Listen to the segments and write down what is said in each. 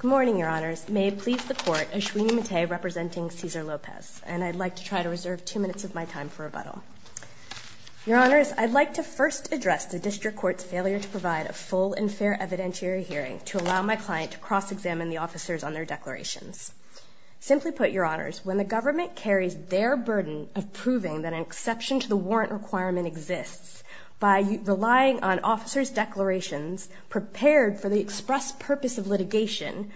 Good morning, Your Honors. May it please the Court, Ashwini Mate representing Cesar Lopez, and I'd like to try to reserve two minutes of my time for rebuttal. Your Honors, I'd like to first address the District Court's failure to provide a full and fair evidentiary hearing to allow my client to cross-examine the officers on their declarations. Simply put, Your Honors, when the government carries their burden of proving that an exception to the warrant requirement exists, by relying on officers' declarations prepared for the express purpose of litigation,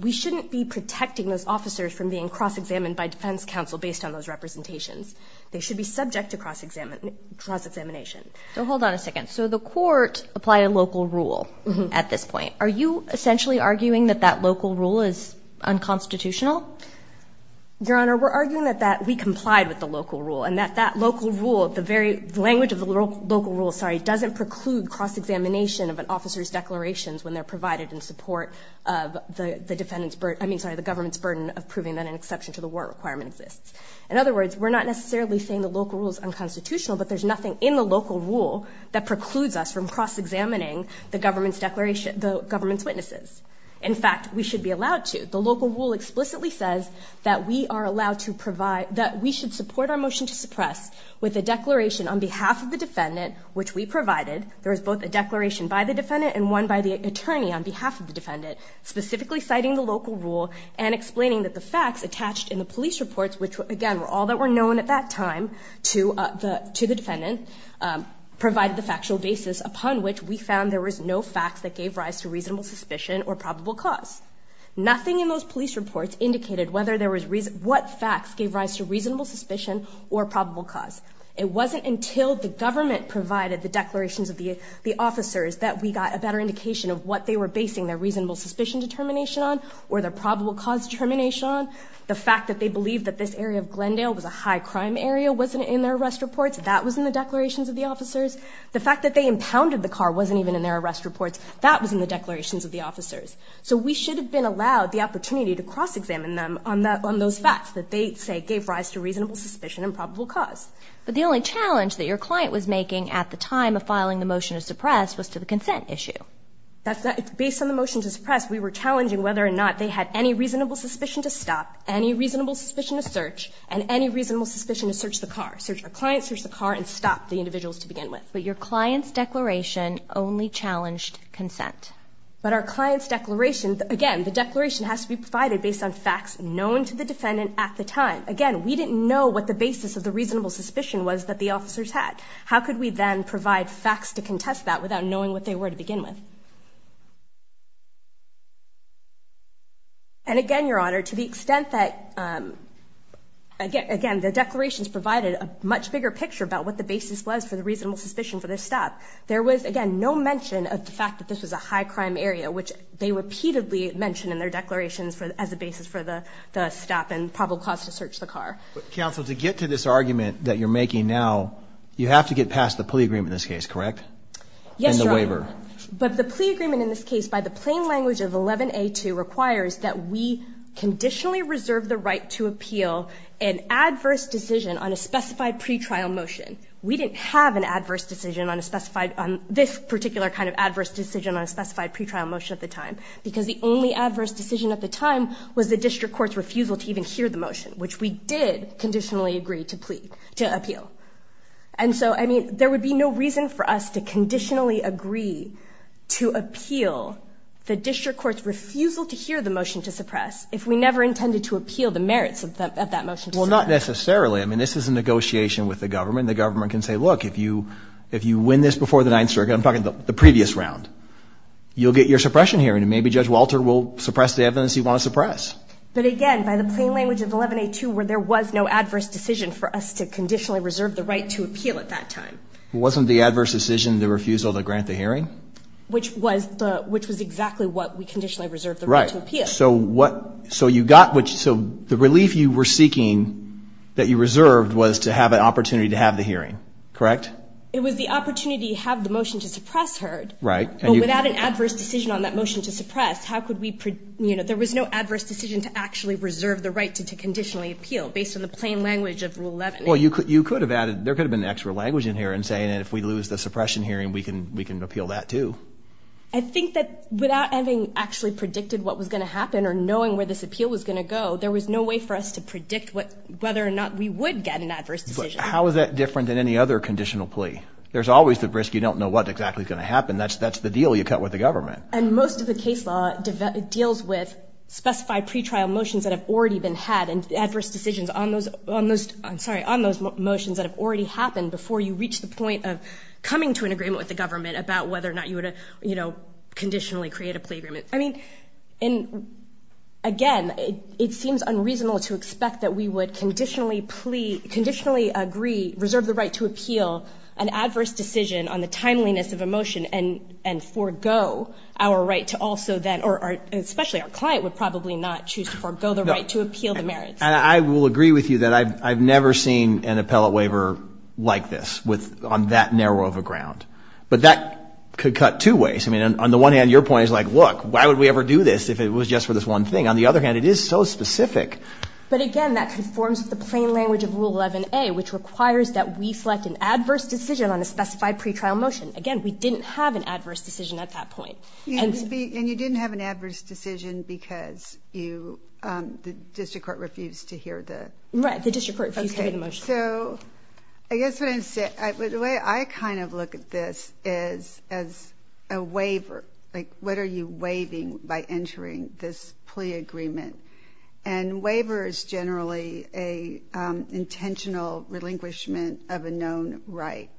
we shouldn't be protecting those officers from being cross-examined by Defense Counsel based on those representations. They should be subject to cross-examination. So hold on a second. So the Court applied a local rule at this point. Are you essentially arguing that that local rule is unconstitutional? Your Honor, we're arguing that that we complied with the local rule, the very language of the local rule, sorry, doesn't preclude cross-examination of an officer's declarations when they're provided in support of the defendant's burden, I mean, sorry, the government's burden of proving that an exception to the warrant requirement exists. In other words, we're not necessarily saying the local rule is unconstitutional, but there's nothing in the local rule that precludes us from cross-examining the government's declarations, the government's witnesses. In fact, we should be allowed to. The local rule explicitly says that we are allowed to provide, that we should support our motion to suppress with a declaration on behalf of the defendant, which we provided. There was both a declaration by the defendant and one by the attorney on behalf of the defendant, specifically citing the local rule and explaining that the facts attached in the police reports, which again, were all that were known at that time to the defendant, provided the factual basis upon which we found there was no facts that gave rise to reasonable suspicion or probable cause. Nothing in those police reports indicated whether there was reason, what facts gave rise to reasonable suspicion or probable cause. It wasn't until the government provided the declarations of the officers that we got a better indication of what they were basing their reasonable suspicion determination on, or their probable cause determination on. The fact that they believed that this area of Glendale was a high-crime area wasn't in their arrest reports, that was in the declarations of the officers. The fact that they impounded the car wasn't even in their arrest reports, that was in the declarations of the officers. So we should have been allowed the opportunity to cross-examine them on those facts that they say gave rise to reasonable suspicion and probable cause. But the only challenge that your client was making at the time of filing the motion to suppress was to the consent issue. Based on the motion to suppress, we were challenging whether or not they had any reasonable suspicion to stop, any reasonable suspicion to search, and any reasonable suspicion to search the car, search the client, search the car, and stop the individuals to begin with. But your client's declaration only challenged consent. But our client's declaration, again, the declaration has to be provided based on facts known to the defendant at the time. Again, we didn't know what the basis of the reasonable suspicion was that the officers had. How could we then provide facts to contest that without knowing what they were to begin with? And again, Your Honor, to the extent that, again, the declarations provided a much bigger picture about what the basis was for the reasonable suspicion for this stop, there was, again, no mention of the fact that this was a high-crime area, which they repeatedly mentioned in their declarations as a basis for the stop and probable cause to search the car. Counsel, to get to this argument that you're making now, you have to get past the plea agreement in this case, correct? Yes, Your Honor. But the plea agreement in this case, by the plain language of 11A2, requires that we conditionally reserve the right to appeal an adverse decision on a specified pretrial motion. We didn't have an adverse decision on a specified, on this particular kind of pretrial motion at the time, because the only adverse decision at the time was the district court's refusal to even hear the motion, which we did conditionally agree to appeal. And so, I mean, there would be no reason for us to conditionally agree to appeal the district court's refusal to hear the motion to suppress if we never intended to appeal the merits of that motion. Well, not necessarily. I mean, this is a negotiation with the government. The government can say, look, if you win this before the Ninth Circuit, I'm talking the previous round, you'll get your suppression hearing. And maybe Judge Walter will suppress the evidence you want to suppress. But again, by the plain language of 11A2, where there was no adverse decision for us to conditionally reserve the right to appeal at that time. Wasn't the adverse decision the refusal to grant the hearing? Which was the, which was exactly what we conditionally reserved the right to appeal. So what, so you got what, so the relief you were seeking that you reserved was to have an opportunity to have the hearing, correct? It was the opportunity to have the motion to suppress heard. Right. But without an adverse decision on that motion to suppress, how could we, you know, there was no adverse decision to actually reserve the right to conditionally appeal based on the plain language of Rule 11A. Well, you could, you could have added, there could have been extra language in here and saying, and if we lose the suppression hearing, we can, we can appeal that too. I think that without having actually predicted what was going to happen or knowing where this appeal was going to go, there was no way for us to predict what, whether or not we would get an adverse decision. How is that different than any other conditional plea? There's always the risk. You don't know what exactly is going to happen. That's, that's the deal you cut with the government. And most of the case law deals with specified pretrial motions that have already been had and adverse decisions on those, on those, I'm sorry, on those motions that have already happened before you reach the point of coming to an agreement with the government about whether or not you would, you know, conditionally create a plea agreement. I mean, and again, it seems unreasonable to expect that we would conditionally plea, conditionally agree, reserve the right to appeal an adverse decision on the timeliness of a motion and, and forego our right to also then, or especially our client would probably not choose to forego the right to appeal the merits. And I will agree with you that I've, I've never seen an appellate waiver like this with, on that narrow of a ground, but that could cut two ways. I mean, on the one hand, your point is like, look, why would we ever do this if it was just for this one thing? On the other hand, it is so specific. But again, that conforms with the plain language of Rule 11A, which requires that we select an adverse decision on a specified pretrial motion. Again, we didn't have an adverse decision at that point. And you didn't have an adverse decision because you, um, the district court refused to hear the motion. So I guess what I'm saying, the way I kind of look at this is as a waiver, like what are you waiving by entering this plea agreement? And waiver is generally a, um, intentional relinquishment of a known right.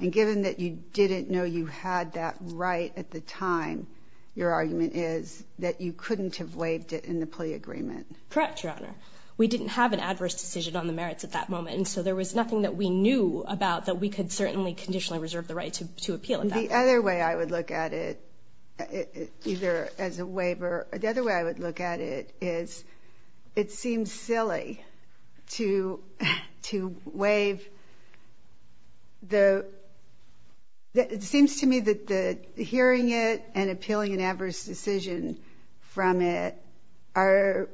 And given that you didn't know you had that right at the time, your argument is that you couldn't have waived it in the plea agreement. Correct, Your Honor. We didn't have an adverse decision on the merits at that moment. And so there was nothing that we knew about that we could certainly conditionally reserve the right to, to appeal. And the other way I would look at it either as a waiver, the other way I would look at it is it seems silly to, to waive the, it seems to me that the hearing it and appealing an adverse decision from it are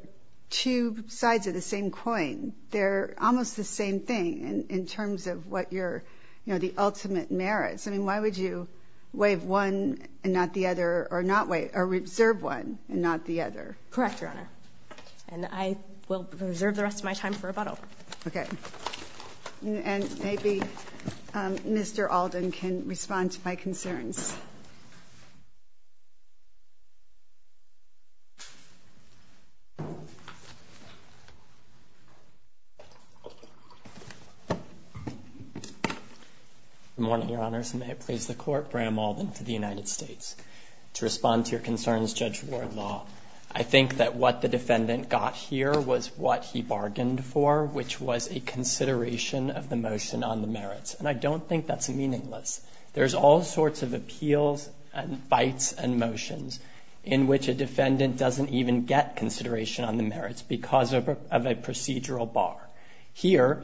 two sides of the same coin. They're almost the same thing in terms of what your, you know, the ultimate merits. I mean, why would you waive one and not the other or not waive, or reserve one and not the other? Correct, Your Honor. And I will reserve the rest of my time for rebuttal. Okay. And maybe, um, Mr. Alden can respond to my concerns. Good morning, Your Honors. And may it please the court, Bram Alden for the United States to respond to your concerns, Judge Wardlaw. I think that what the defendant got here was what he bargained for, which was a consideration of the motion on the merits. And I don't think that's meaningless. There's all sorts of appeals and fights and motions in which a defendant doesn't even get consideration on the merits because of a procedural bar. Here,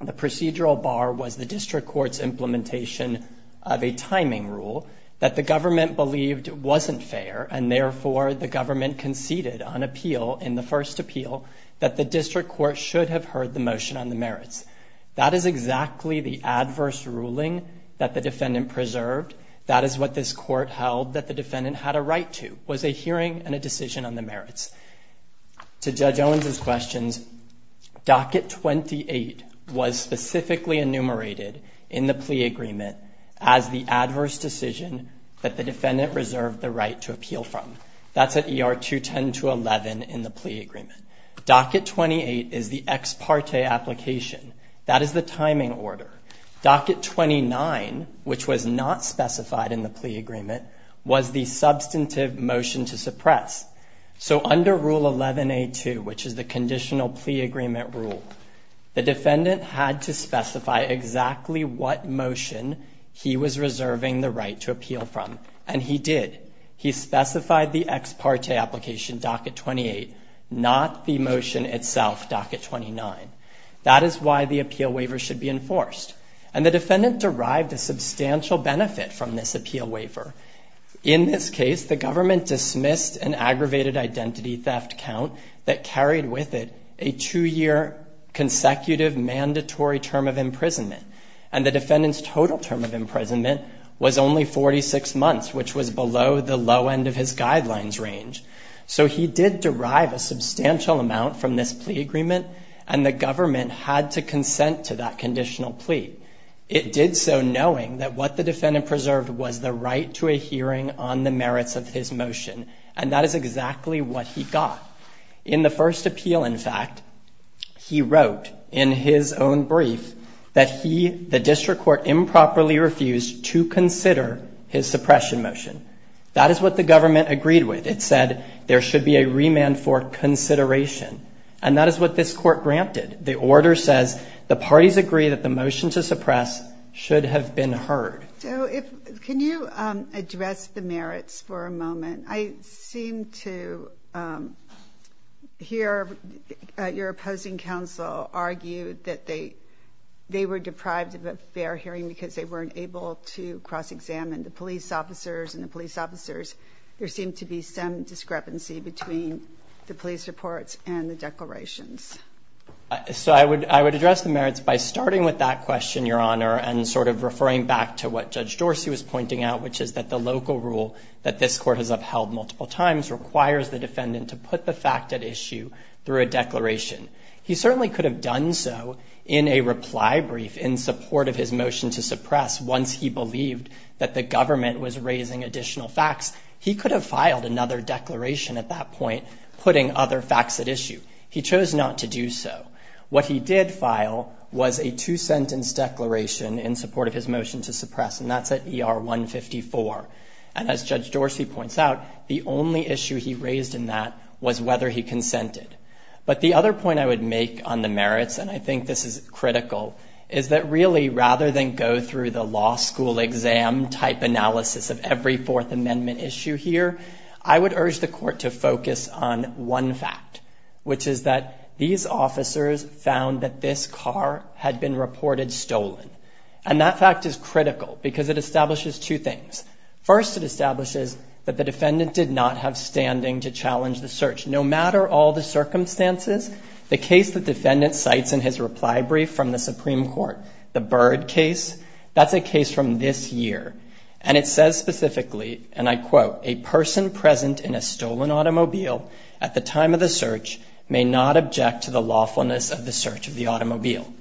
the procedural bar was the district court's implementation of a timing rule that the government believed wasn't fair. And therefore, the government conceded on appeal in the first appeal that the district court should have heard the motion on the merits. That is exactly the adverse ruling that the defendant preserved. That is what this court held that the defendant had a right to, was a hearing and a decision on the merits. To Judge Owens' questions, Docket 28 was specifically enumerated in the plea agreement as the adverse decision that the defendant reserved the right to appeal from. That's at ER 210-11 in the plea agreement. Docket 28 is the ex parte application. That is the timing order. Docket 29, which was not specified in the plea agreement, was the substantive motion to suppress. So under Rule 11A2, which is the conditional plea agreement rule, the he was reserving the right to appeal from. And he did. He specified the ex parte application, Docket 28, not the motion itself, Docket 29. That is why the appeal waiver should be enforced. And the defendant derived a substantial benefit from this appeal waiver. In this case, the government dismissed an aggravated identity theft count that carried with it a two-year consecutive mandatory term of imprisonment. And the defendant's total term of imprisonment was only 46 months, which was below the low end of his guidelines range. So he did derive a substantial amount from this plea agreement. And the government had to consent to that conditional plea. It did so knowing that what the defendant preserved was the right to a hearing on the merits of his motion. And that is exactly what he got in the first appeal. In fact, he wrote in his own brief that he, the district court, improperly refused to consider his suppression motion. That is what the government agreed with. It said there should be a remand for consideration. And that is what this court granted. The order says the parties agree that the motion to suppress should have been heard. So if can you address the merits for a moment? I seem to hear your opposing counsel argue that they were deprived of a fair hearing because they weren't able to cross-examine the police officers and the police officers. There seemed to be some discrepancy between the police reports and the declarations. So I would address the merits by starting with that question, Your Honor, and sort of referring back to what Judge Dorsey was pointing out, which is that the local rule that this court has upheld multiple times requires the defendant to put the fact at issue through a declaration. He certainly could have done so in a reply brief in support of his motion to suppress once he believed that the government was raising additional facts. He could have filed another declaration at that point, putting other facts at issue. He chose not to do so. What he did file was a two-sentence declaration in support of his motion to suppress, and that's at ER 154. And as Judge Dorsey points out, the only issue he raised in that was whether he consented. But the other point I would make on the merits, and I think this is critical, is that really, rather than go through the law school exam type analysis of every Fourth Amendment issue here, I would urge the court to focus on one fact, which is that these officers found that this car had been reported stolen. And that fact is critical because it establishes two things. First, it establishes that the defendant did not have standing to challenge the search. No matter all the circumstances, the case the defendant cites in his reply brief from the Supreme Court, the Byrd case, that's a case from this year. And it says specifically, and I quote, a person present in a stolen automobile at the time of the search may not object to the lawfulness of the search of the automobile.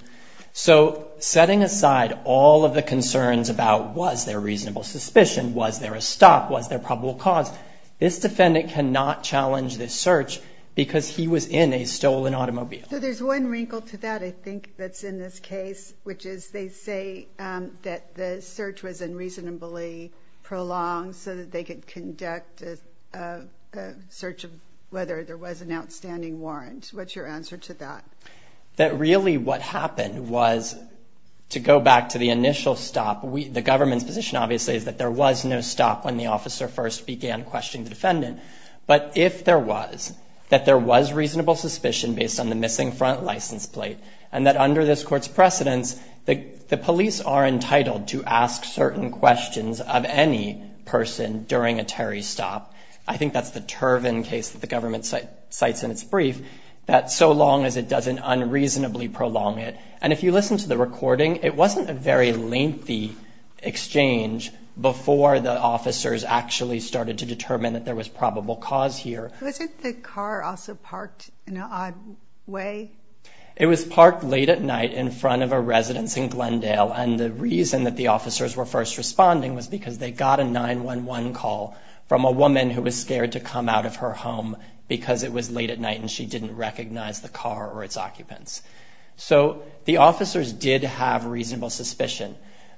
So setting aside all of the concerns about was there reasonable suspicion, was there a stop, was there probable cause, this defendant cannot challenge this search because he was in a stolen automobile. So there's one wrinkle to that, I think, that's in this case, which is they say that the search was unreasonably prolonged so that they could conduct a search of whether there was an outstanding warrant. What's your answer to that? That really what happened was, to go back to the initial stop, the government's position obviously is that there was no stop when the officer first began questioning the defendant. But if there was, that there was reasonable suspicion based on the missing front license plate, and that under this court's precedence, the police are entitled to ask certain questions of any person during a Terry stop. I think that's the Turvin case that the government cites in its brief, that so long as it doesn't unreasonably prolong it. And if you listen to the recording, it wasn't a very lengthy exchange before the officers actually started to determine that there was probable cause here. Wasn't the car also parked in an odd way? It was parked late at night in front of a residence in Glendale. And the reason that the officers were first responding was because they got a 911 call from a woman who was scared to come out of her home because it was late at night and she didn't recognize the car or its occupants. So the officers did have reasonable suspicion.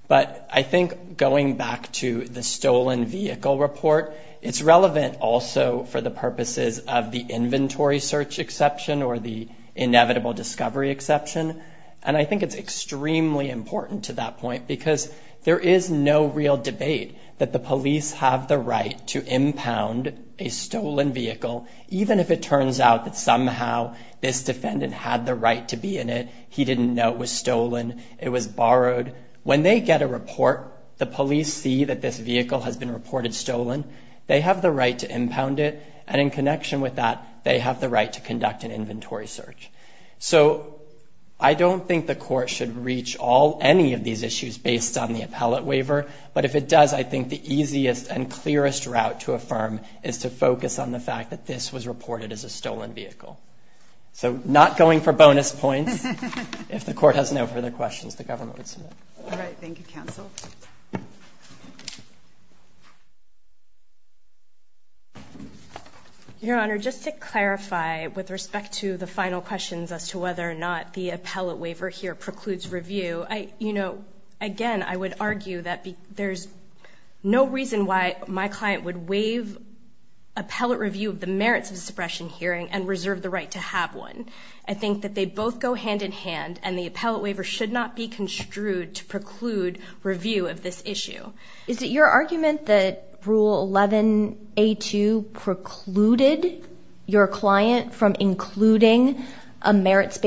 But I think going back to the stolen vehicle report, it's relevant also for the purposes of the inventory search exception or the inevitable discovery exception. And I think it's extremely important to that point because there is no real debate that the police have the right to impound a stolen vehicle, even if it turns out that somehow this defendant had the right to be in it. He didn't know it was stolen. It was borrowed. When they get a report, the police see that this vehicle has been reported stolen. They have the right to impound it. And in connection with that, they have the right to conduct an inventory search. So I don't think the court should reach all any of these issues based on the appellate waiver. But if it does, I think the easiest and clearest route to affirm is to focus on the fact that this was reported as a stolen vehicle. So not going for bonus points. If the court has no further questions, the government would submit. All right. Thank you, counsel. Your Honor, just to clarify with respect to the final questions as to whether or not the there's no reason why my client would waive appellate review of the merits of suppression hearing and reserve the right to have one. I think that they both go hand in hand and the appellate waiver should not be construed to preclude review of this issue. Is it your argument that Rule 11A2 precluded your client from including a clause?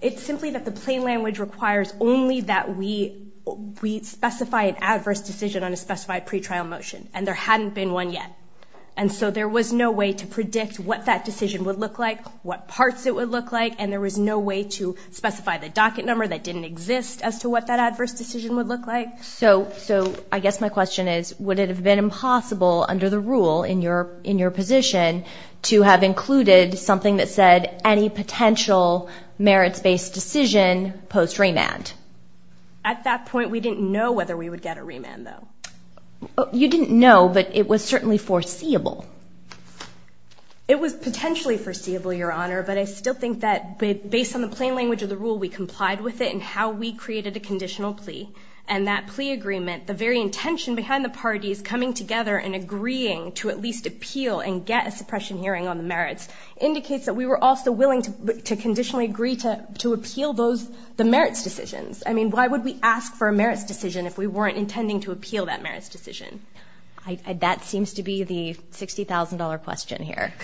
It's simply that the plain language requires only that we we specify an adverse decision on a specified pretrial motion. And there hadn't been one yet. And so there was no way to predict what that decision would look like, what parts it would look like. And there was no way to specify the docket number that didn't exist as to what that adverse decision would look like. So so I guess my question is, would it have been impossible under the rule in your in have included something that said any potential merits based decision post remand? At that point, we didn't know whether we would get a remand, though. You didn't know, but it was certainly foreseeable. It was potentially foreseeable, Your Honor, but I still think that based on the plain language of the rule, we complied with it and how we created a conditional plea and that plea agreement, the very intention behind the parties coming together and agreeing to at a suppression hearing on the merits indicates that we were also willing to conditionally agree to to appeal those the merits decisions. I mean, why would we ask for a merits decision if we weren't intending to appeal that merits decision? That seems to be the sixty thousand dollar question here.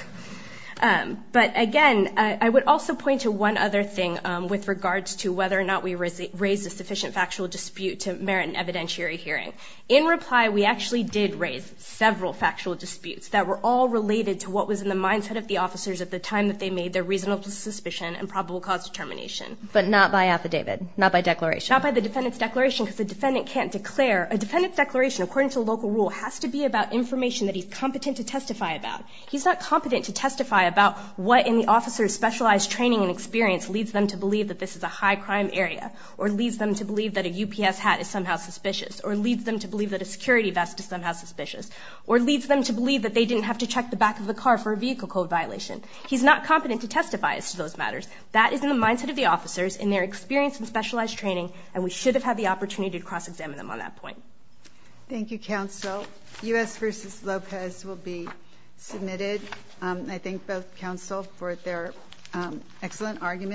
But again, I would also point to one other thing with regards to whether or not we raise a sufficient factual dispute to merit an evidentiary hearing. In reply, we actually did raise several factual disputes that were all related to what was in the mindset of the officers at the time that they made their reasonable suspicion and probable cause determination, but not by affidavit, not by declaration, not by the defendant's declaration, because the defendant can't declare a defendant's declaration, according to the local rule, has to be about information that he's competent to testify about. He's not competent to testify about what in the officer's specialized training and experience leads them to believe that this is a high crime area or leads them to believe that a security vest is somehow suspicious or leads them to believe that they didn't have to check the back of the car for a vehicle code violation. He's not competent to testify as to those matters. That is in the mindset of the officers in their experience and specialized training. And we should have had the opportunity to cross-examine them on that point. Thank you, counsel. U.S. versus Lopez will be submitted. I think both counsel for their excellent argument.